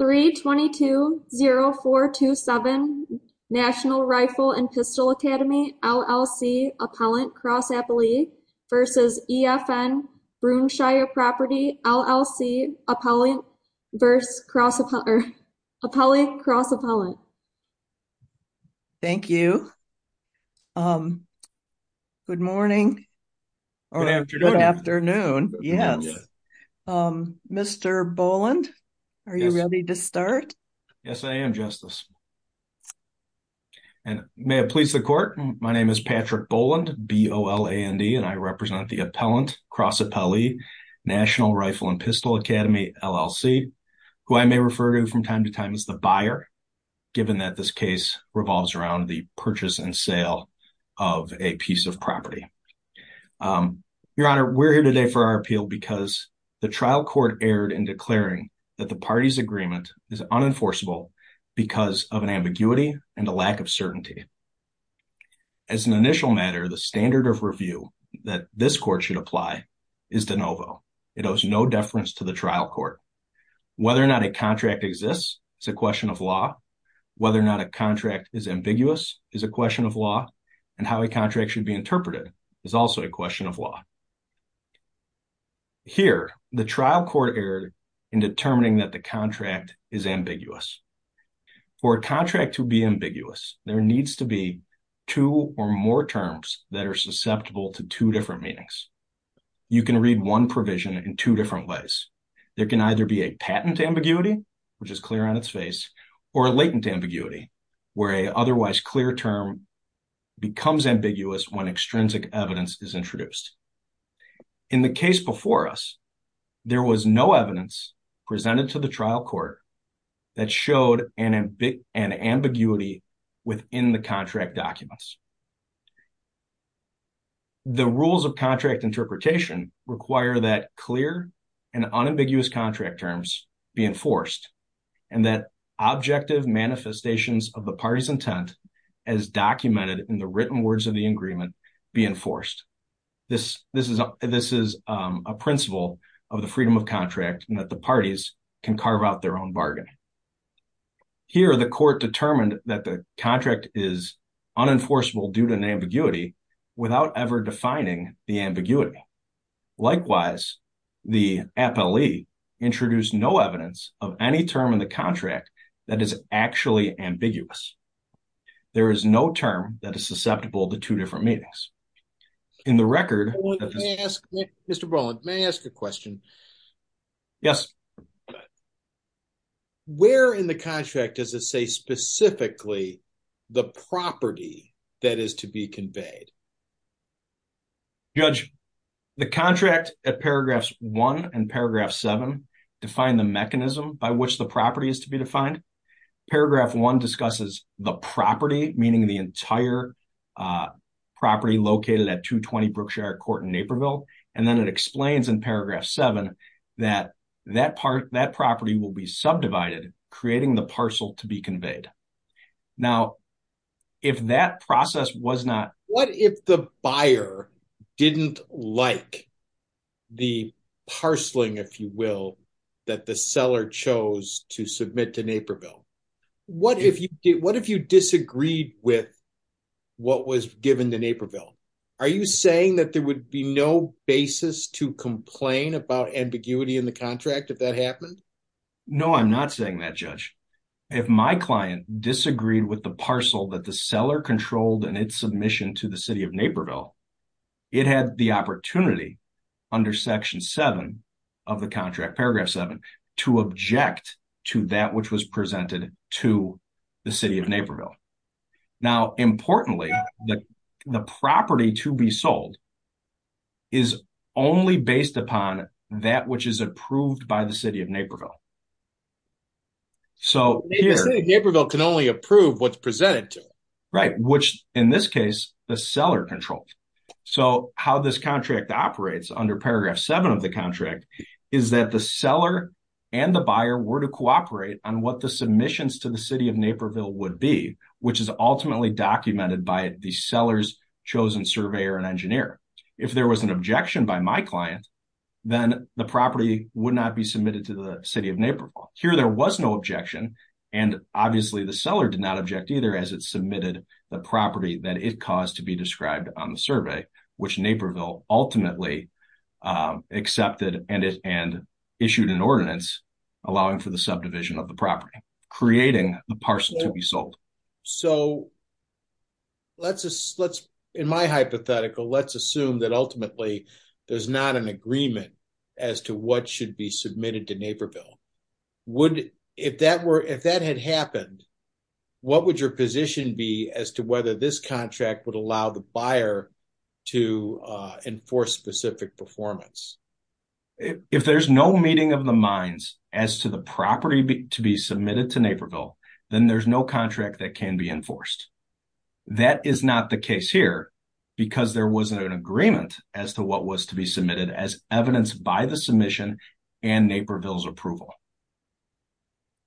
322-0427 National Rifle & Pistol Academy, LLC, Appellant Cross-Appellee v. EFN Brookshire Property, LLC, Appellant Cross-Appellant Yes, I am, Justice. And may it please the Court, my name is Patrick Boland, B-O-L-A-N-D, and I represent the Appellant Cross-Appellee National Rifle & Pistol Academy, LLC, who I may refer to from time to time as the buyer, given that this case revolves around the purchase and sale of a piece of property. Your Honor, we're here today for our appeal because the trial court erred in declaring that the party's agreement is unenforceable because of an ambiguity and a lack of certainty. As an initial matter, the standard of review that this court should apply is de novo. It owes no deference to the trial court. Whether or not a contract exists is a question of law, whether or not a contract is ambiguous is a question of law, and how a contract should be interpreted is also a question of law. Here, the trial court erred in determining that the contract is ambiguous. For a contract to be ambiguous, there needs to be two or more terms that are susceptible to two different meanings. You can read one provision in two different ways. There can either be a patent ambiguity, which is clear on its face, or a latent ambiguity, where an otherwise clear term becomes ambiguous when extrinsic evidence is introduced. In the case before us, there was no evidence presented to the trial court that showed an ambiguity within the contract documents. The rules of contract interpretation require that clear and unambiguous contract terms be enforced and that objective manifestations of the party's intent as documented in the written words of the agreement be enforced. This is a principle of the freedom of contract and that the parties can carve out their own bargain. Here, the court determined that the contract is unenforceable due to an ambiguity without ever defining the ambiguity. Likewise, the appellee introduced no evidence of any term in the contract that is actually ambiguous. There is no term that is susceptible to two different meanings. In the record... Mr. Brolin, may I ask a question? Yes. Where in the contract does it say specifically the property that is to be conveyed? Judge, the contract at paragraphs one and paragraph seven define the mechanism by which the property is to be defined. Paragraph one discusses the property, meaning the entire property located at 220 Brookshire Court in Naperville. And then it explains in paragraph seven that that property will be subdivided, creating the parcel to be conveyed. Now, if that process was not... What if the buyer didn't like the parceling, if you will, that the seller chose to submit to Naperville? What if you disagreed with what was given to Naperville? Are you saying that there would be no basis to complain about ambiguity in the contract if that happened? No, I'm not saying that, Judge. If my client disagreed with the parcel that the seller controlled in its submission to the city of Naperville, it had the opportunity under section seven of the contract, paragraph seven, to object to that which was presented to the city of Naperville. Now, importantly, the property to be sold is only based upon that which is approved by the city of Naperville. The city of Naperville can only approve what's presented to it. Right, which in this case, the seller controlled. So how this contract operates under paragraph seven of the contract is that the seller and the buyer were to cooperate on what the submissions to the city of Naperville would be, which is ultimately documented by the seller's chosen surveyor and engineer. If there was an objection by my client, then the property would not be submitted to the city of Naperville. Here there was no objection, and obviously the seller did not object either as it submitted the property that it caused to be described on the survey, which Naperville ultimately accepted and issued an ordinance allowing for the subdivision of the property, creating the parcel to be sold. So, in my hypothetical, let's assume that ultimately there's not an agreement as to what should be submitted to Naperville. If that had happened, what would your position be as to whether this contract would allow the buyer to enforce specific performance? If there's no meeting of the minds as to the property to be submitted to Naperville, then there's no contract that can be enforced. That is not the case here because there wasn't an agreement as to what was to be submitted as evidenced by the submission and Naperville's approval.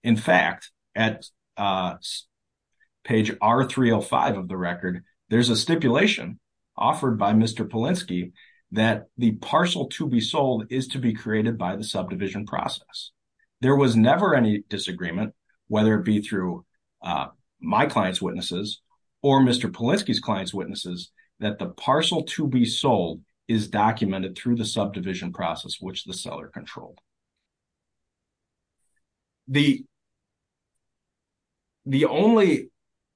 In fact, at page R305 of the record, there's a stipulation offered by Mr. Polinsky that the parcel to be sold is to be created by the subdivision process. There was never any disagreement, whether it be through my client's witnesses or Mr. Polinsky's client's witnesses, that the parcel to be sold is documented through the subdivision process, which the seller controlled. The only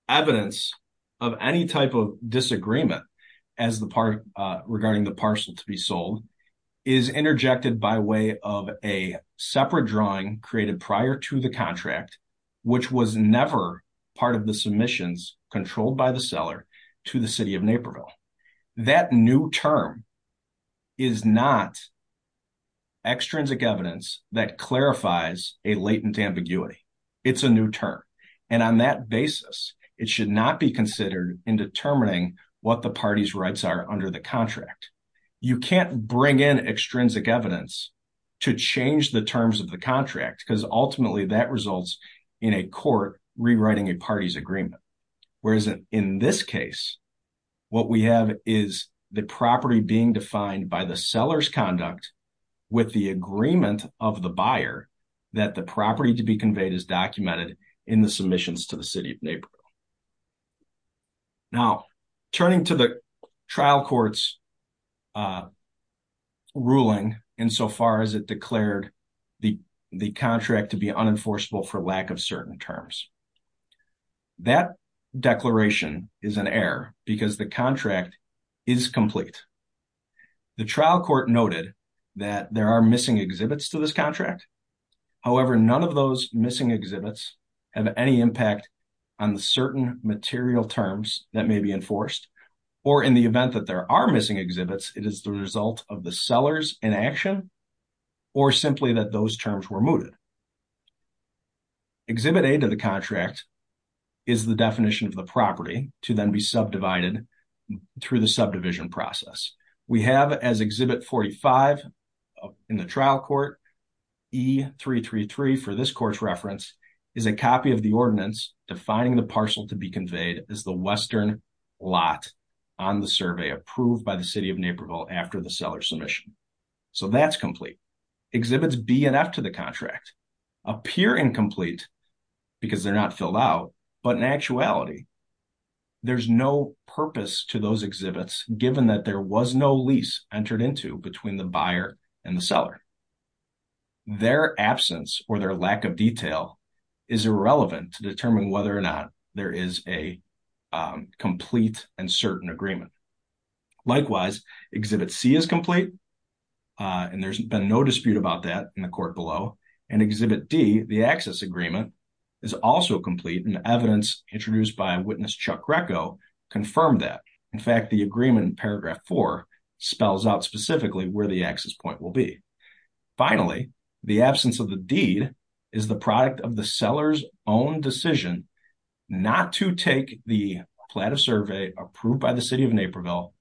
evidence of any type of disagreement regarding the parcel to be sold is interjected by way of a separate drawing created prior to the contract, which was never part of the submissions controlled by the seller to the city of Naperville. That new term is not extrinsic evidence that clarifies a latent ambiguity. It's a new term. And on that basis, it should not be considered in determining what the party's rights are under the contract. You can't bring in extrinsic evidence to change the terms of the contract because ultimately that results in a court rewriting a party's agreement. Whereas in this case, what we have is the property being defined by the seller's conduct with the agreement of the buyer that the property to be conveyed is documented in the submissions to the city of Naperville. Now, turning to the trial court's ruling insofar as it declared the contract to be unenforceable for lack of certain terms. That declaration is an error because the contract is complete. The trial court noted that there are missing exhibits to this contract. However, none of those missing exhibits have any impact on the certain material terms that may be enforced. Or in the event that there are missing exhibits, it is the result of the sellers inaction or simply that those terms were mooted. Exhibit A to the contract is the definition of the property to then be subdivided through the subdivision process. We have as exhibit 45 in the trial court, E333 for this court's reference is a copy of the ordinance defining the parcel to be conveyed as the western lot on the survey approved by the city of Naperville after the seller submission. So that's complete. Exhibits B and F to the contract appear incomplete because they're not filled out, but in actuality, there's no purpose to those exhibits given that there was no lease entered into between the buyer and the seller. Their absence or their lack of detail is irrelevant to determine whether or not there is a complete and certain agreement. Likewise, exhibit C is complete, and there's been no dispute about that in the court below. And exhibit D, the access agreement, is also complete, and evidence introduced by witness Chuck Greco confirmed that. In fact, the agreement in paragraph 4 spells out specifically where the access point will be. Finally, the absence of the deed is the product of the seller's own decision not to take the plan of survey approved by the city of Naperville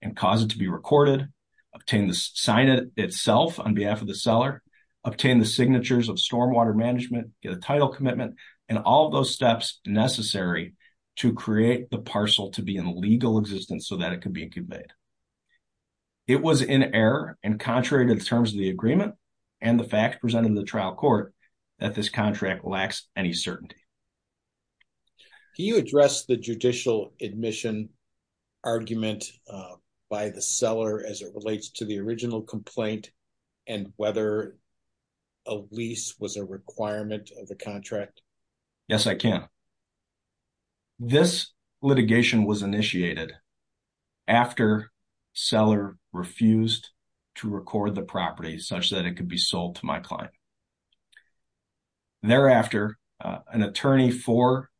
and cause it to be recorded, sign it itself on behalf of the seller, obtain the signatures of stormwater management, get a title commitment, and all those steps necessary to create the parcel to be in legal existence so that it can be conveyed. It was in error and contrary to the terms of the agreement and the facts presented in the trial court that this contract lacks any certainty. Can you address the judicial admission argument by the seller as it relates to the original complaint and whether a lease was a requirement of the contract? Yes, I can. This litigation was initiated after seller refused to record the property such that it could be sold to my client. Thereafter, an attorney for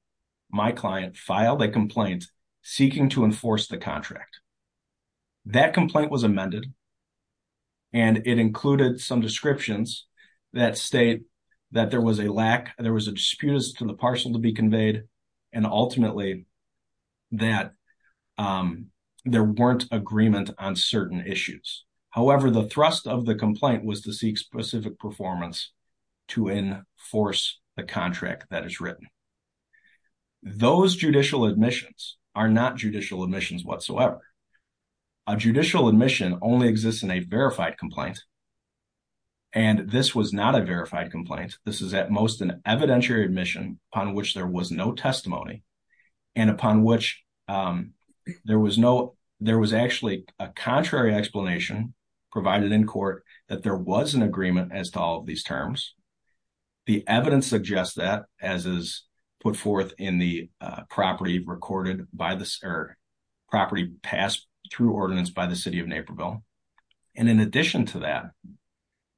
my client filed a complaint seeking to enforce the contract. That complaint was amended and it included some descriptions that state that there was a lack, there was a dispute as to the parcel to be conveyed, and ultimately that there weren't agreement on certain issues. However, the thrust of the complaint was to seek specific performance to enforce the contract that is written. Those judicial admissions are not judicial admissions whatsoever. A judicial admission only exists in a verified complaint and this was not a verified complaint. This is at most an evidentiary admission upon which there was no testimony and upon which there was actually a contrary explanation provided in court that there was an agreement as to all of these terms. The evidence suggests that as is put forth in the property recorded by the property passed through ordinance by the city of Naperville. And in addition to that,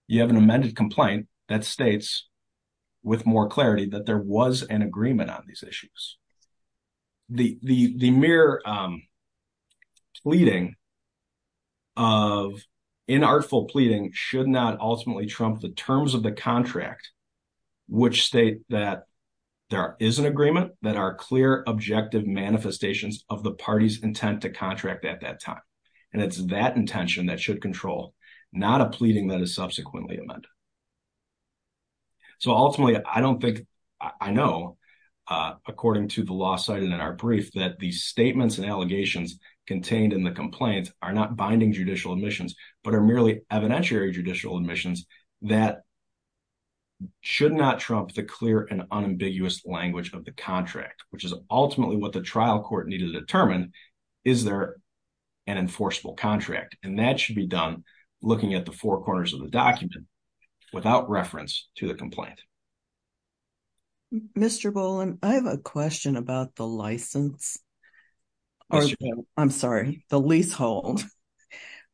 you have an amended complaint that states with more clarity that there was an agreement on these issues. The mere pleading of inartful pleading should not ultimately trump the terms of the contract, which state that there is an agreement that are clear, objective manifestations of the party's intent to contract at that time. And it's that intention that should control, not a pleading that is subsequently amended. So ultimately, I don't think I know, according to the law cited in our brief, that these statements and allegations contained in the complaints are not binding judicial admissions, but are merely evidentiary judicial admissions that should not trump the clear and unambiguous language of the contract, which is ultimately what the trial court needed to determine. Is there an enforceable contract? And that should be done looking at the four corners of the document without reference to the complaint. Mr. Bowling, I have a question about the license. I'm sorry, the leasehold.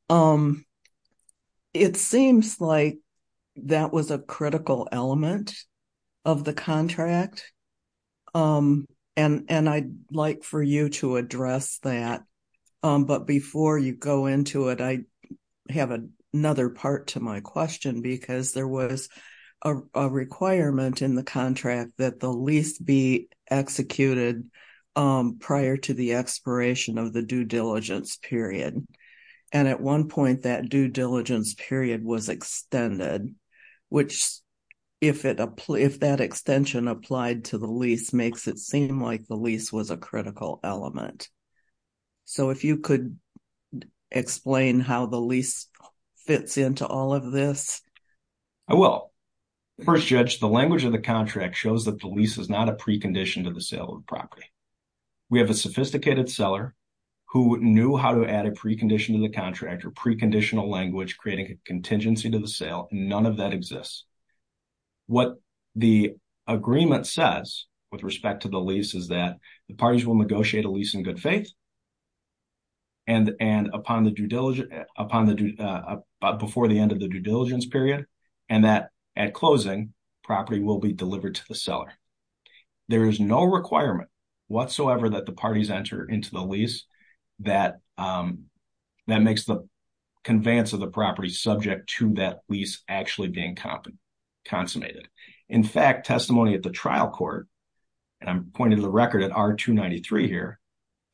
It seems like that was a critical element of the contract, and I'd like for you to address that. But before you go into it, I have another part to my question, because there was a requirement in the contract that the lease be executed prior to the expiration of the due diligence period. And at one point, that due diligence period was extended, which, if that extension applied to the lease, makes it seem like the lease was a critical element. So if you could explain how the lease fits into all of this. I will. First, Judge, the language of the contract shows that the lease is not a precondition to the sale of the property. We have a sophisticated seller who knew how to add a precondition to the contract or preconditional language, creating a contingency to the sale. None of that exists. What the agreement says with respect to the lease is that the parties will negotiate a lease in good faith before the end of the due diligence period, and that at closing, property will be delivered to the seller. There is no requirement whatsoever that the parties enter into the lease that makes the conveyance of the property subject to that lease actually being consummated. In fact, testimony at the trial court, and I'm pointing to the record at R-293 here,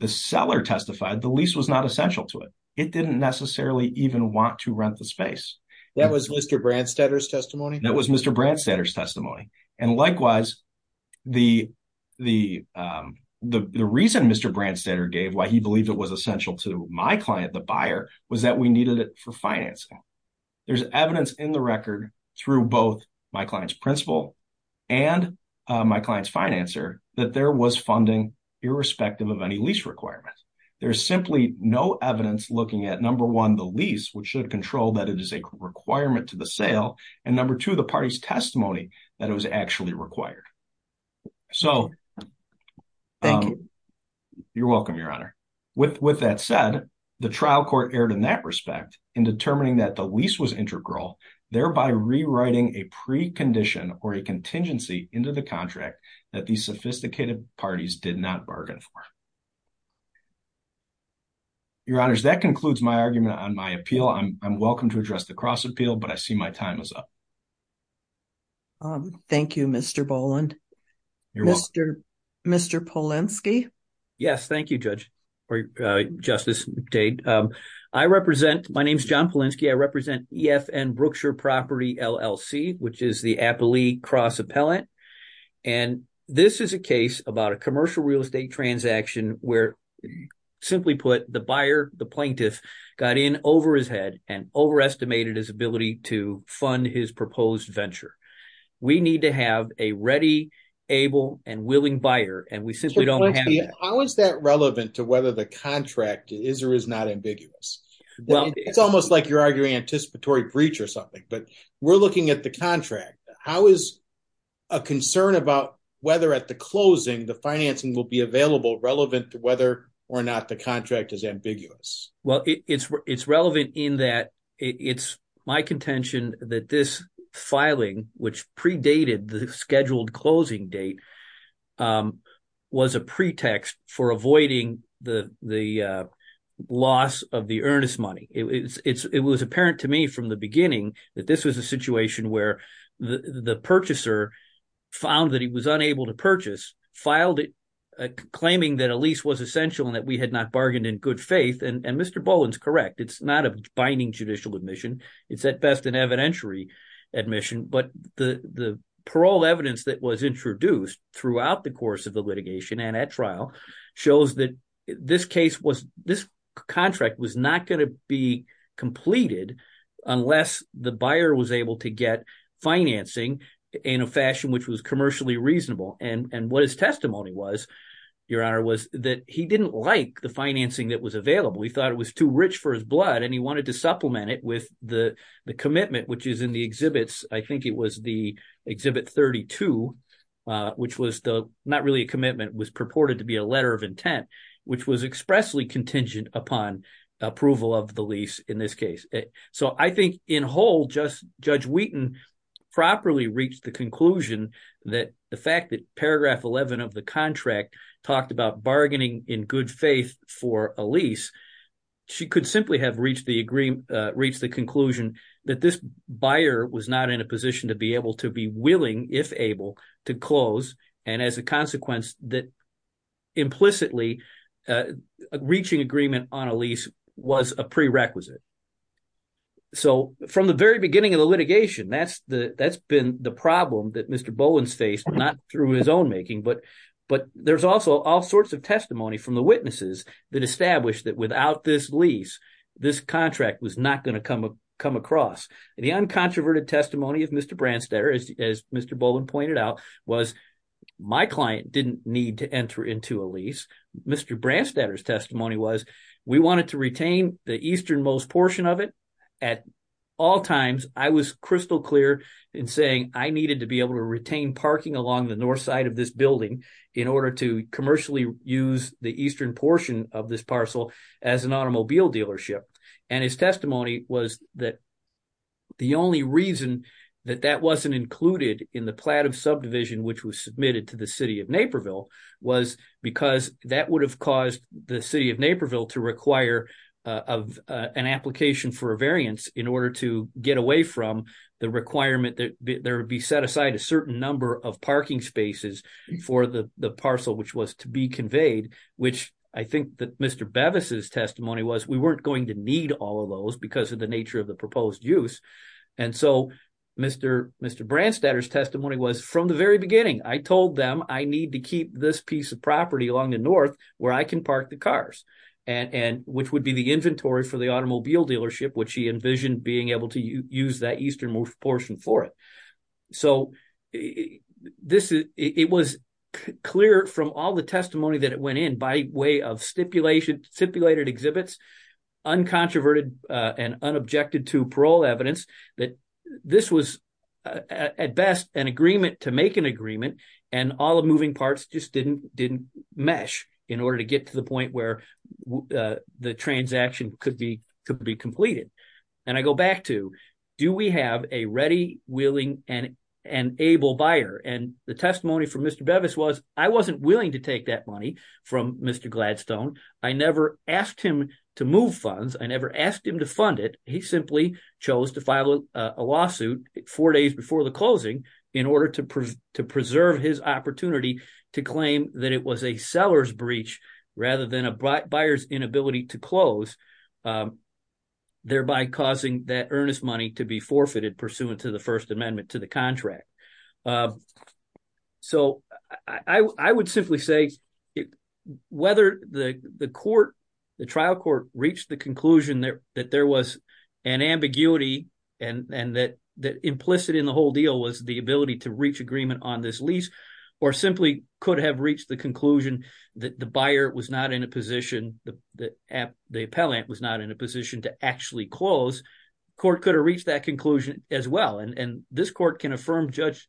the seller testified the lease was not essential to it. It didn't necessarily even want to rent the space. That was Mr. Branstetter's testimony? That was Mr. Branstetter's testimony. And likewise, the reason Mr. Branstetter gave why he believed it was essential to my client, the buyer, was that we needed it for financing. There's evidence in the record through both my client's principal and my client's financer that there was funding irrespective of any lease requirements. There's simply no evidence looking at, number one, the lease, which should control that it is a requirement to the sale, and number two, the party's testimony that it was actually required. Thank you. You're welcome, Your Honor. With that said, the trial court erred in that respect in determining that the lease was integral, thereby rewriting a precondition or a contingency into the contract that these sophisticated parties did not bargain for. Your Honor, that concludes my argument on my appeal. I'm welcome to address the cross-appeal, but I see my time is up. Thank you, Mr. Boland. Mr. Polinsky? Yes, thank you, Justice Dade. I represent – my name is John Polinsky. I represent EFN Brookshire Property, LLC, which is the appellee cross-appellant. And this is a case about a commercial real estate transaction where, simply put, the buyer, the plaintiff, got in over his head and overestimated his ability to fund his proposed venture. We need to have a ready, able, and willing buyer, and we simply don't have that. How is that relevant to whether the contract is or is not ambiguous? It's almost like you're arguing anticipatory breach or something, but we're looking at the contract. How is a concern about whether at the closing the financing will be available relevant to whether or not the contract is ambiguous? Well, it's relevant in that it's my contention that this filing, which predated the scheduled closing date, was a pretext for avoiding the loss of the earnest money. It was apparent to me from the beginning that this was a situation where the purchaser found that he was unable to purchase, filed it claiming that a lease was essential and that we had not bargained in good faith. And Mr. Boland is correct. It's not a binding judicial admission. It's at best an evidentiary admission. But the parole evidence that was introduced throughout the course of the litigation and at trial shows that this contract was not going to be completed unless the buyer was able to get financing in a fashion which was commercially reasonable. And what his testimony was, Your Honor, was that he didn't like the financing that was available. He thought it was too rich for his blood and he wanted to supplement it with the commitment, which is in the exhibits. I think it was the Exhibit 32, which was not really a commitment. It was purported to be a letter of intent, which was expressly contingent upon approval of the lease in this case. So I think in whole, Judge Wheaton properly reached the conclusion that the fact that Paragraph 11 of the contract talked about bargaining in good faith for a lease, she could simply have reached the conclusion that this buyer was not in a position to be able to be willing, if able, to close and as a consequence that implicitly reaching agreement on a lease was a prerequisite. So from the very beginning of the litigation, that's been the problem that Mr. Boland's faced, not through his own making, but there's also all sorts of testimony from the witnesses that established that without this lease, this contract was not going to come across. The uncontroverted testimony of Mr. Branstadter, as Mr. Boland pointed out, was my client didn't need to enter into a lease. Mr. Branstadter's testimony was we wanted to retain the easternmost portion of it at all times. I was crystal clear in saying I needed to be able to retain parking along the north side of this building in order to commercially use the eastern portion of this parcel as an automobile dealership. And his testimony was that the only reason that that wasn't included in the plat of subdivision, which was submitted to the city of Naperville was because that would have caused the city of Naperville to require of an application for a variance in order to get away from the requirement that there would be set aside a certain number of parking spaces for the parcel, which was to be conveyed, which I think that Mr. Bevis' testimony was we weren't going to need all of those because of the nature of the proposed use. And so Mr. Branstadter's testimony was from the very beginning, I told them I need to keep this piece of property along the north where I can park the cars, which would be the inventory for the automobile dealership, which he envisioned being able to use that eastern portion for it. So it was clear from all the testimony that it went in by way of stipulated exhibits, uncontroverted and unobjected to parole evidence, that this was at best an agreement to make an agreement and all the moving parts just didn't mesh in order to get to the point where the transaction could be completed. And I go back to, do we have a ready, willing and able buyer? And the testimony from Mr. Bevis was I wasn't willing to take that money from Mr. Gladstone. I never asked him to move funds. I never asked him to fund it. He simply chose to file a lawsuit four days before the closing in order to preserve his opportunity to claim that it was a seller's breach rather than a buyer's inability to close. Thereby causing that earnest money to be forfeited pursuant to the First Amendment to the contract. So I would simply say whether the court, the trial court, reached the conclusion that there was an ambiguity and that implicit in the whole deal was the ability to reach agreement on this lease or simply could have reached the conclusion that the buyer was not in a position, the appellant was not in a position to actually close, court could have reached that conclusion as well. And this court can affirm Judge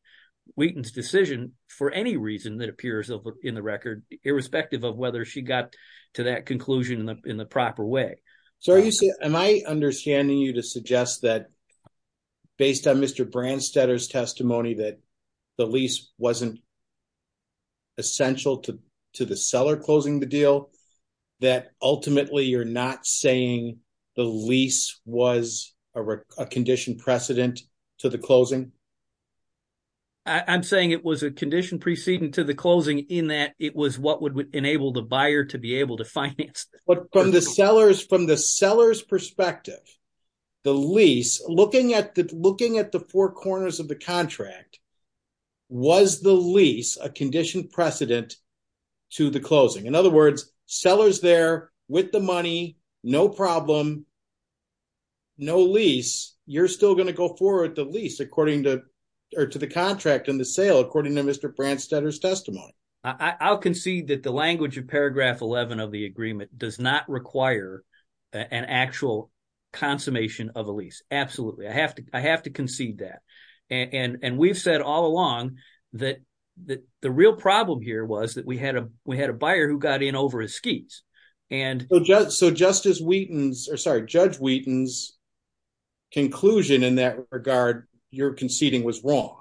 Wheaton's decision for any reason that appears in the record, irrespective of whether she got to that conclusion in the proper way. So are you saying, am I understanding you to suggest that based on Mr. Branstetter's testimony that the lease wasn't essential to the seller closing the deal, that ultimately you're not saying the lease was a condition precedent to the closing? I'm saying it was a condition precedent to the closing in that it was what would enable the buyer to be able to finance. But from the seller's perspective, the lease, looking at the four corners of the contract, was the lease a condition precedent to the closing? In other words, seller's there with the money, no problem, no lease, you're still going to go forward the lease according to, or to the contract and the sale according to Mr. Branstetter's testimony. I'll concede that the language of paragraph 11 of the agreement does not require an actual consummation of a lease. Absolutely. I have to concede that. And we've said all along that the real problem here was that we had a buyer who got in over his skis. So Justice Wheaton's, or sorry, Judge Wheaton's conclusion in that regard, your conceding was wrong.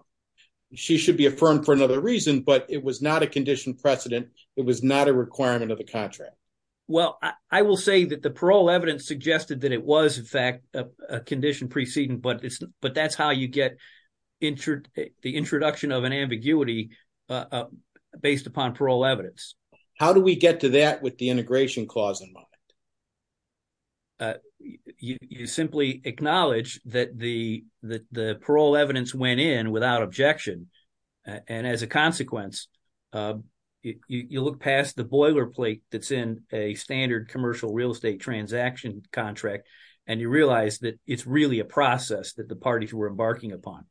She should be affirmed for another reason, but it was not a condition precedent. It was not a requirement of the contract. Well, I will say that the parole evidence suggested that it was in fact a condition precedent, but that's how you get the introduction of an ambiguity based upon parole evidence. How do we get to that with the integration clause in mind? You simply acknowledge that the parole evidence went in without objection. And as a consequence, you look past the boilerplate that's in a standard commercial real estate transaction contract, and you realize that it's really a process that the parties were embarking upon.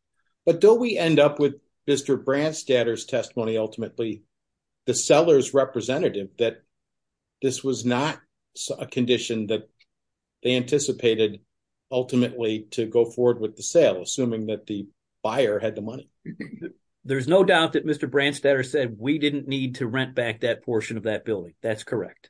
But don't we end up with Mr. Branstadter's testimony ultimately, the seller's representative, that this was not a condition that they anticipated ultimately to go forward with the sale, assuming that the buyer had the money? There's no doubt that Mr. Branstadter said we didn't need to rent back that portion of that building. That's correct.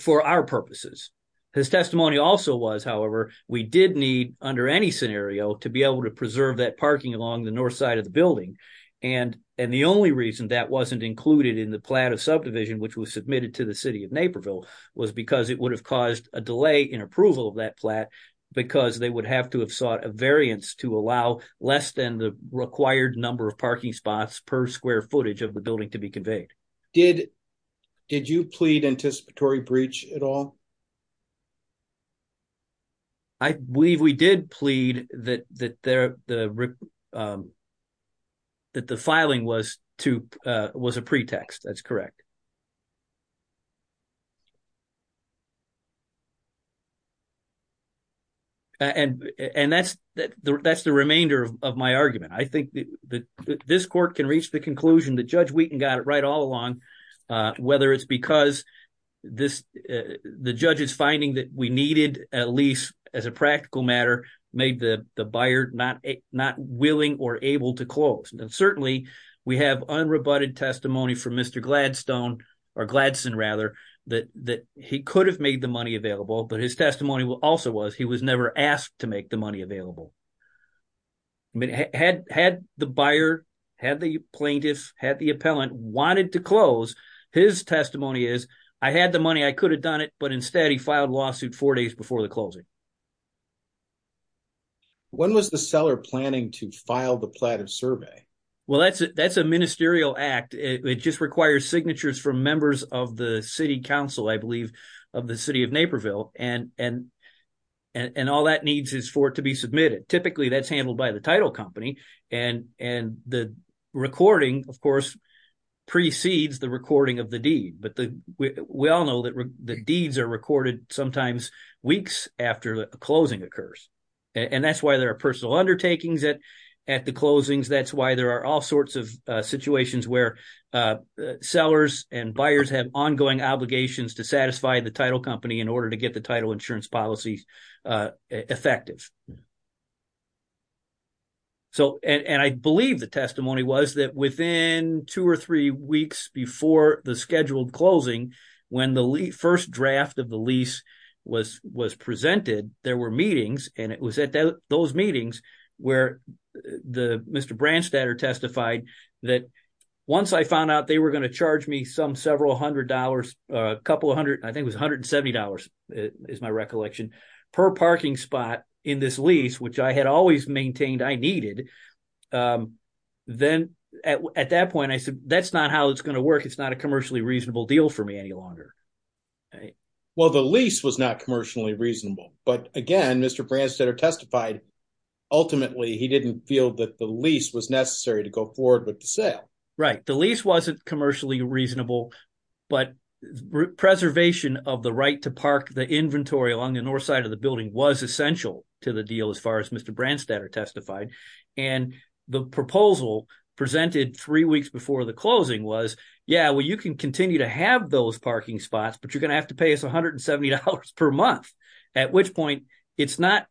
For our purposes. His testimony also was, however, we did need under any scenario to be able to preserve that parking along the north side of the building. And the only reason that wasn't included in the plan of subdivision, which was submitted to the city of Naperville, was because it would have caused a delay in approval of that flat because they would have to have sought a variance to allow less than the required number of parking spots per square footage of the building to be conveyed. Did you plead anticipatory breach at all? I believe we did plead that the filing was a pretext. That's correct. And that's the remainder of my argument. I think that this court can reach the conclusion that Judge Wheaton got it right all along, whether it's because the judge's finding that we needed, at least as a practical matter, made the buyer not willing or able to close. And certainly we have unrebutted testimony from Mr. Gladstone, or Gladson rather, that he could have made the money available, but his testimony also was he was never asked to make the money available. Had the buyer, had the plaintiff, had the appellant wanted to close, his testimony is, I had the money, I could have done it, but instead he filed lawsuit four days before the closing. When was the seller planning to file the plattive survey? Well, that's a ministerial act. It just requires signatures from members of the city council, I believe, of the city of Naperville, and all that needs is for it to be submitted. Typically that's handled by the title company, and the recording, of course, precedes the recording of the deed. But we all know that the deeds are recorded sometimes weeks after the closing occurs. And that's why there are personal undertakings at the closings. That's why there are all sorts of situations where sellers and buyers have ongoing obligations to satisfy the title company in order to get the title insurance policy effective. And I believe the testimony was that within two or three weeks before the scheduled closing, when the first draft of the lease was presented, there were meetings, and it was at those meetings where Mr. Branstadter testified that once I found out they were going to charge me some several hundred dollars, a couple of hundred, I think it was $170 is my recollection, per parking spot in this lease, which I had always maintained I needed, then at that point I said, that's not how it's going to work. It's not a commercially reasonable deal for me any longer. Well, the lease was not commercially reasonable. But again, Mr. Branstadter testified ultimately he didn't feel that the lease was necessary to go forward with the sale. Right. The lease wasn't commercially reasonable, but preservation of the right to park the inventory along the north side of the building was essential to the deal as far as Mr. Branstadter testified. And the proposal presented three weeks before the closing was, yeah, well, you can continue to have those parking spots, but you're going to have to pay us $170 per month. At which point, it's not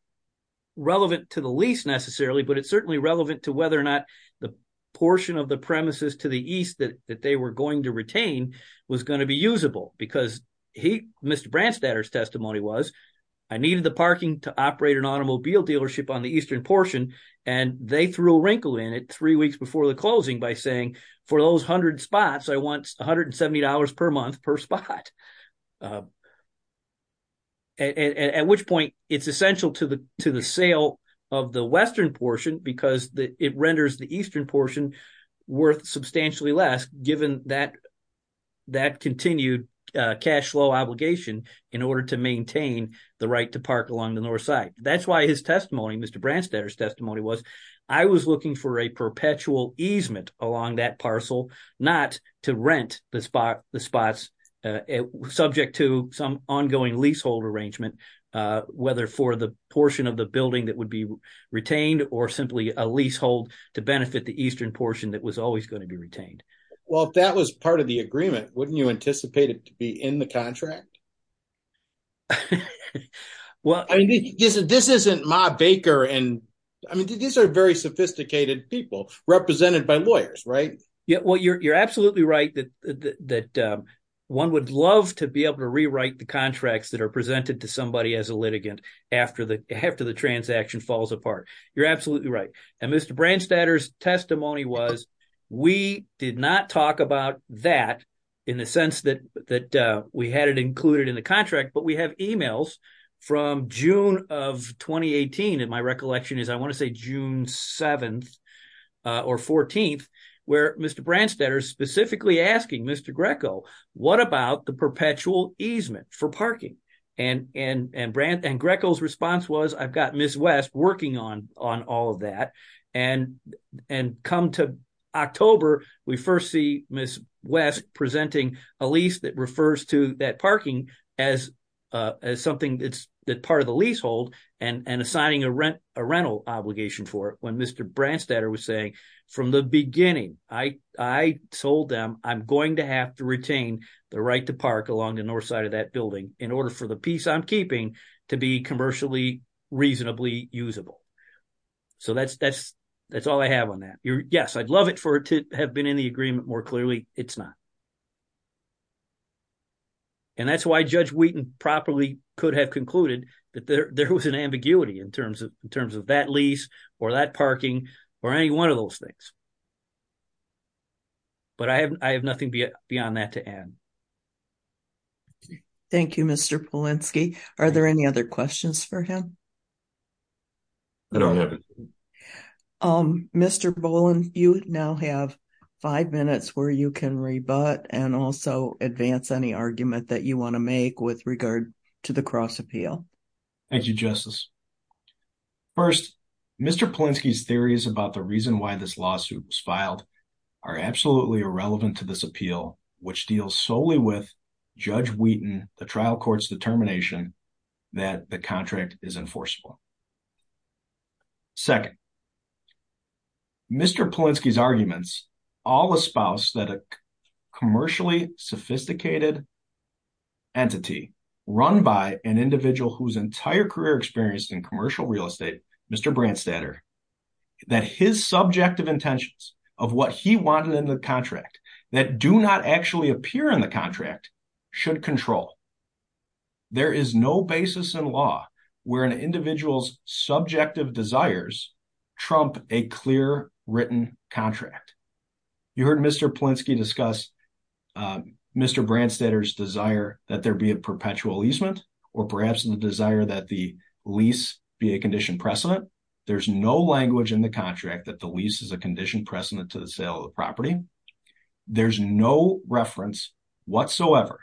relevant to the lease necessarily, but it's certainly relevant to whether or not the portion of the premises to the east that they were going to retain was going to be usable. Because Mr. Branstadter's testimony was, I needed the parking to operate an automobile dealership on the eastern portion, and they threw a wrinkle in it three weeks before the closing by saying, for those 100 spots, I want $170 per month per spot. At which point, it's essential to the sale of the western portion because it renders the eastern portion worth substantially less given that continued cash flow obligation in order to maintain the right to park along the north side. That's why his testimony, Mr. Branstadter's testimony was, I was looking for a perpetual easement along that parcel, not to rent the spots subject to some ongoing leasehold arrangement, whether for the portion of the building that would be retained or simply a leasehold to benefit the eastern portion that was always going to be retained. Well, if that was part of the agreement, wouldn't you anticipate it to be in the contract? Well, I mean, this isn't Ma Baker, and I mean, these are very sophisticated people represented by lawyers, right? Yeah, well, you're absolutely right that one would love to be able to rewrite the contracts that are presented to somebody as a litigant after the transaction falls apart. You're absolutely right. And Mr. Branstadter's testimony was, we did not talk about that in the sense that we had it included in the contract, but we have emails from June of 2018. And my recollection is I want to say June 7th or 14th, where Mr. Branstadter specifically asking Mr. Greco, what about the perpetual easement for parking? And Greco's response was, I've got Ms. West working on all of that. And come to October, we first see Ms. West presenting a lease that refers to that parking as something that's part of the leasehold and assigning a rental obligation for it. And I remember when Mr. Branstadter was saying, from the beginning, I told them I'm going to have to retain the right to park along the north side of that building in order for the piece I'm keeping to be commercially reasonably usable. So that's all I have on that. Yes, I'd love it for it to have been in the agreement more clearly. It's not. And that's why Judge Wheaton properly could have concluded that there was an ambiguity in terms of in terms of that lease or that parking or any 1 of those things. But I have, I have nothing beyond that to end. Thank you, Mr. Polinsky. Are there any other questions for him? I don't have it. Mr. Boland, you now have 5 minutes where you can rebut and also advance any argument that you want to make with regard to the cross appeal. Thank you, Justice. First, Mr. Polinsky's theories about the reason why this lawsuit was filed are absolutely irrelevant to this appeal, which deals solely with Judge Wheaton, the trial court's determination that the contract is enforceable. Second, Mr. Polinsky's arguments all espouse that a commercially sophisticated entity run by an individual whose entire career experience in commercial real estate, Mr. Branstadter, that his subjective intentions of what he wanted in the contract that do not actually appear in the contract should control. There is no basis in law where an individual's subjective desires trump a clear written contract. You heard Mr. Polinsky discuss Mr. Branstadter's desire that there be a perpetual easement or perhaps the desire that the lease be a condition precedent. There's no language in the contract that the lease is a condition precedent to the sale of property. There's no reference whatsoever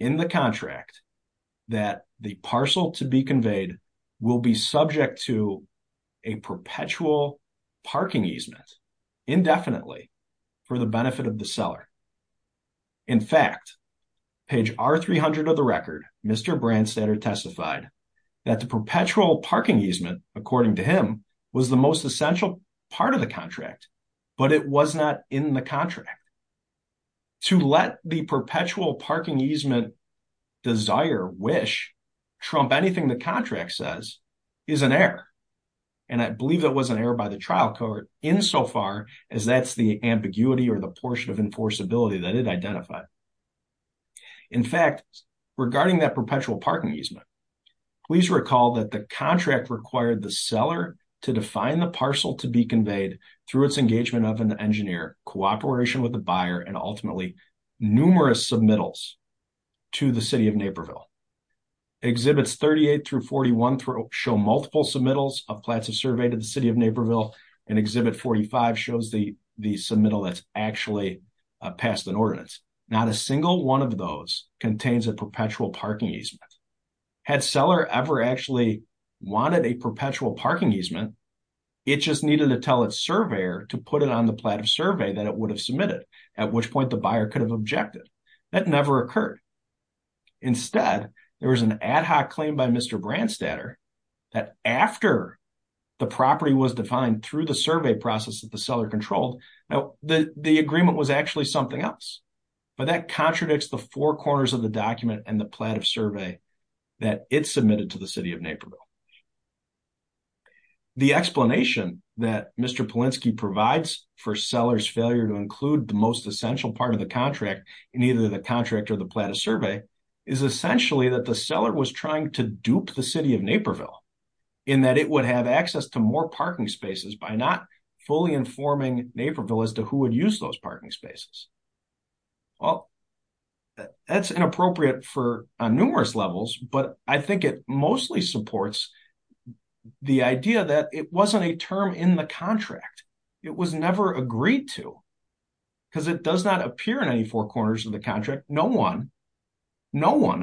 in the contract that the parcel to be conveyed will be subject to a perpetual parking easement indefinitely for the benefit of the seller. In fact, page R300 of the record, Mr. Branstadter testified that the perpetual parking easement, according to him, was the most essential part of the contract, but it was not in the contract. To let the perpetual parking easement desire wish trump anything the contract says is an error. And I believe that was an error by the trial court insofar as that's the ambiguity or the portion of enforceability that it identified. In fact, regarding that perpetual parking easement, please recall that the contract required the seller to define the parcel to be conveyed through its engagement of an engineer, cooperation with the buyer, and ultimately numerous submittals to the City of Naperville. Exhibits 38 through 41 show multiple submittals of plats of survey to the City of Naperville, and exhibit 45 shows the submittal that's actually passed an ordinance. Not a single one of those contains a perpetual parking easement. Had seller ever actually wanted a perpetual parking easement, it just needed to tell its surveyor to put it on the plat of survey that it would have submitted, at which point the buyer could have objected. That never occurred. Instead, there was an ad hoc claim by Mr. Branstadter that after the property was defined through the survey process that the seller controlled, the agreement was actually something else. But that contradicts the four corners of the document and the plat of survey that it submitted to the City of Naperville. The explanation that Mr. Polinsky provides for seller's failure to include the most essential part of the contract in either the contract or the plat of survey is essentially that the seller was trying to dupe the City of Naperville in that it would have access to more parking spaces by not fully informing Naperville as to who would use those parking spaces. Well, that's inappropriate on numerous levels, but I think it mostly supports the idea that it wasn't a term in the contract. It was never agreed to because it does not appear in any four corners of the contract. No one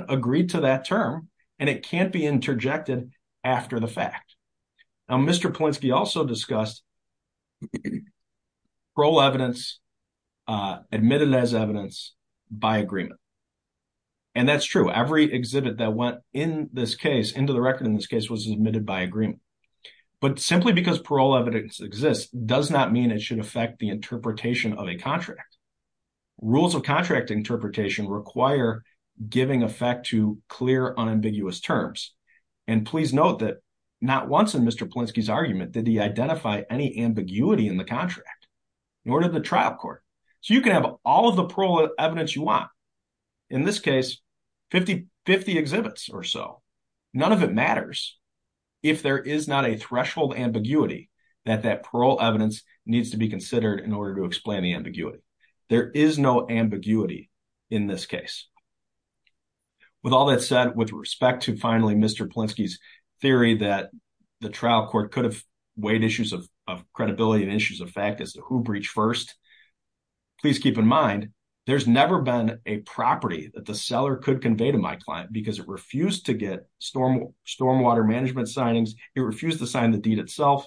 agreed to that term, and it can't be interjected after the fact. Now, Mr. Polinsky also discussed parole evidence admitted as evidence by agreement. And that's true. Every exhibit that went into the record in this case was admitted by agreement. But simply because parole evidence exists does not mean it should affect the interpretation of a contract. Rules of contract interpretation require giving effect to clear, unambiguous terms. And please note that not once in Mr. Polinsky's argument did he identify any ambiguity in the contract, nor did the trial court. So you can have all of the parole evidence you want. In this case, 50 exhibits or so. None of it matters if there is not a threshold ambiguity that that parole evidence needs to be considered in order to explain the ambiguity. There is no ambiguity in this case. With all that said, with respect to finally Mr. Polinsky's theory that the trial court could have weighed issues of credibility and issues of fact as to who breached first. Please keep in mind, there's never been a property that the seller could convey to my client because it refused to get stormwater management signings. It refused to sign the deed itself.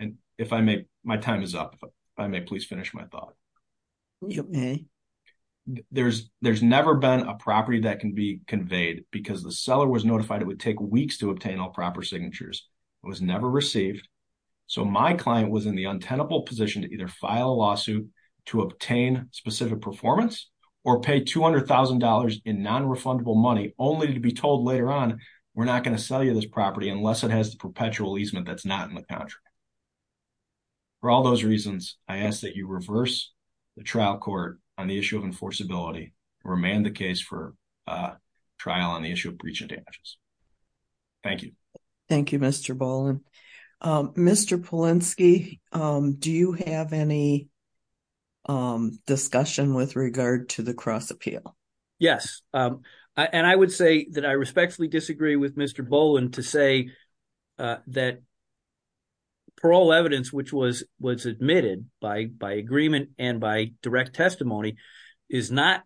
And if I may, my time is up. If I may please finish my thought. There's never been a property that can be conveyed because the seller was notified it would take weeks to obtain all proper signatures. It was never received. So my client was in the untenable position to either file a lawsuit to obtain specific performance or pay $200,000 in non-refundable money only to be told later on, we're not going to sell you this property unless it has the perpetual easement that's not in the contract. For all those reasons, I ask that you reverse the trial court on the issue of enforceability and remand the case for trial on the issue of breach and damages. Thank you. Thank you, Mr. Boland. Mr. Polinsky, do you have any discussion with regard to the cross appeal? Yes. And I would say that I respectfully disagree with Mr. Boland to say that parole evidence, which was admitted by agreement and by direct testimony, is not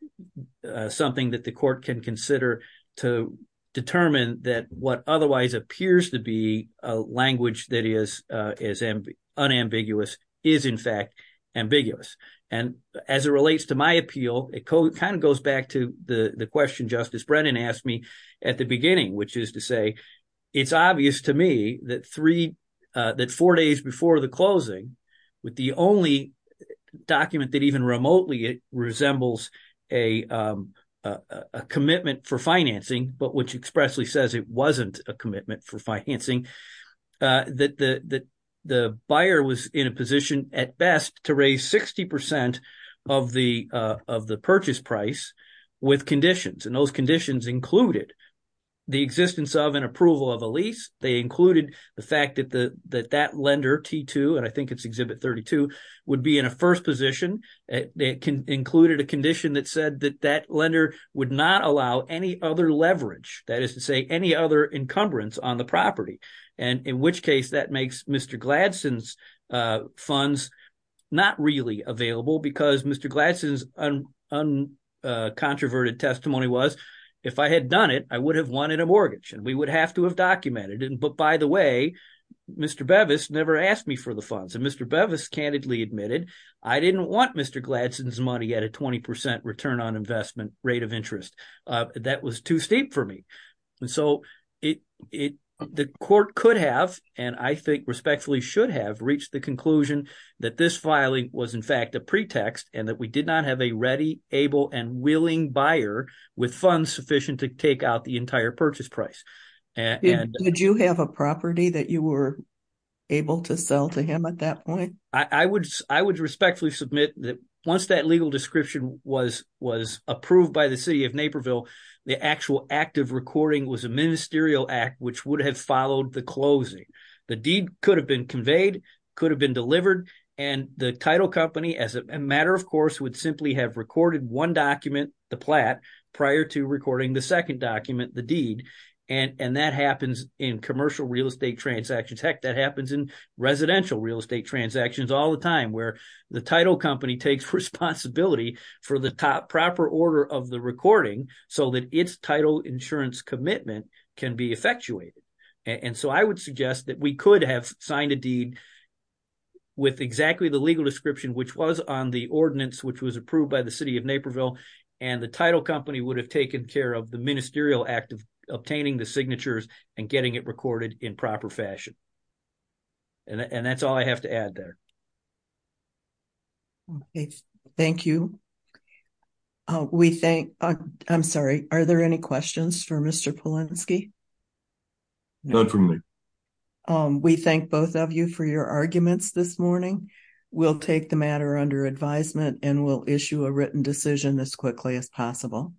something that the court can consider to determine that what otherwise appears to be a language that is unambiguous is, in fact, ambiguous. And as it relates to my appeal, it kind of goes back to the question Justice Brennan asked me at the beginning, which is to say, it's obvious to me that four days before the closing with the only document that even remotely resembles a commitment for financing, but which expressly says it wasn't a commitment for financing, that the buyer was in a position at best to raise 60 percent of the purchase price with conditions. And those conditions included the existence of and approval of a lease. They included the fact that that lender, T2, and I think it's Exhibit 32, would be in a first position. They included a condition that said that that lender would not allow any other leverage, that is to say, any other encumbrance on the property. And in which case that makes Mr. Gladson's funds not really available because Mr. Gladson's uncontroverted testimony was, if I had done it, I would have wanted a mortgage and we would have to have documented it. But by the way, Mr. Bevis never asked me for the funds. And Mr. Bevis candidly admitted I didn't want Mr. Gladson's money at a 20 percent return on investment rate of interest. That was too steep for me. And so the court could have, and I think respectfully should have, reached the conclusion that this filing was, in fact, a pretext, and that we did not have a ready, able, and willing buyer with funds sufficient to take out the entire purchase price. Did you have a property that you were able to sell to him at that point? I would respectfully submit that once that legal description was approved by the city of Naperville, the actual act of recording was a ministerial act which would have followed the closing. The deed could have been conveyed, could have been delivered, and the title company, as a matter of course, would simply have recorded one document, the plat, prior to recording the second document, the deed. And that happens in commercial real estate transactions. Heck, that happens in residential real estate transactions all the time where the title company takes responsibility for the proper order of the recording so that its title insurance commitment can be effectuated. And so I would suggest that we could have signed a deed with exactly the legal description, which was on the ordinance which was approved by the city of Naperville, and the title company would have taken care of the ministerial act of obtaining the signatures and getting it recorded in proper fashion. And that's all I have to add there. Thank you. I'm sorry, are there any questions for Mr. Polensky? None for me. We thank both of you for your arguments this morning. We'll take the matter under advisement and we'll issue a written decision as quickly as possible.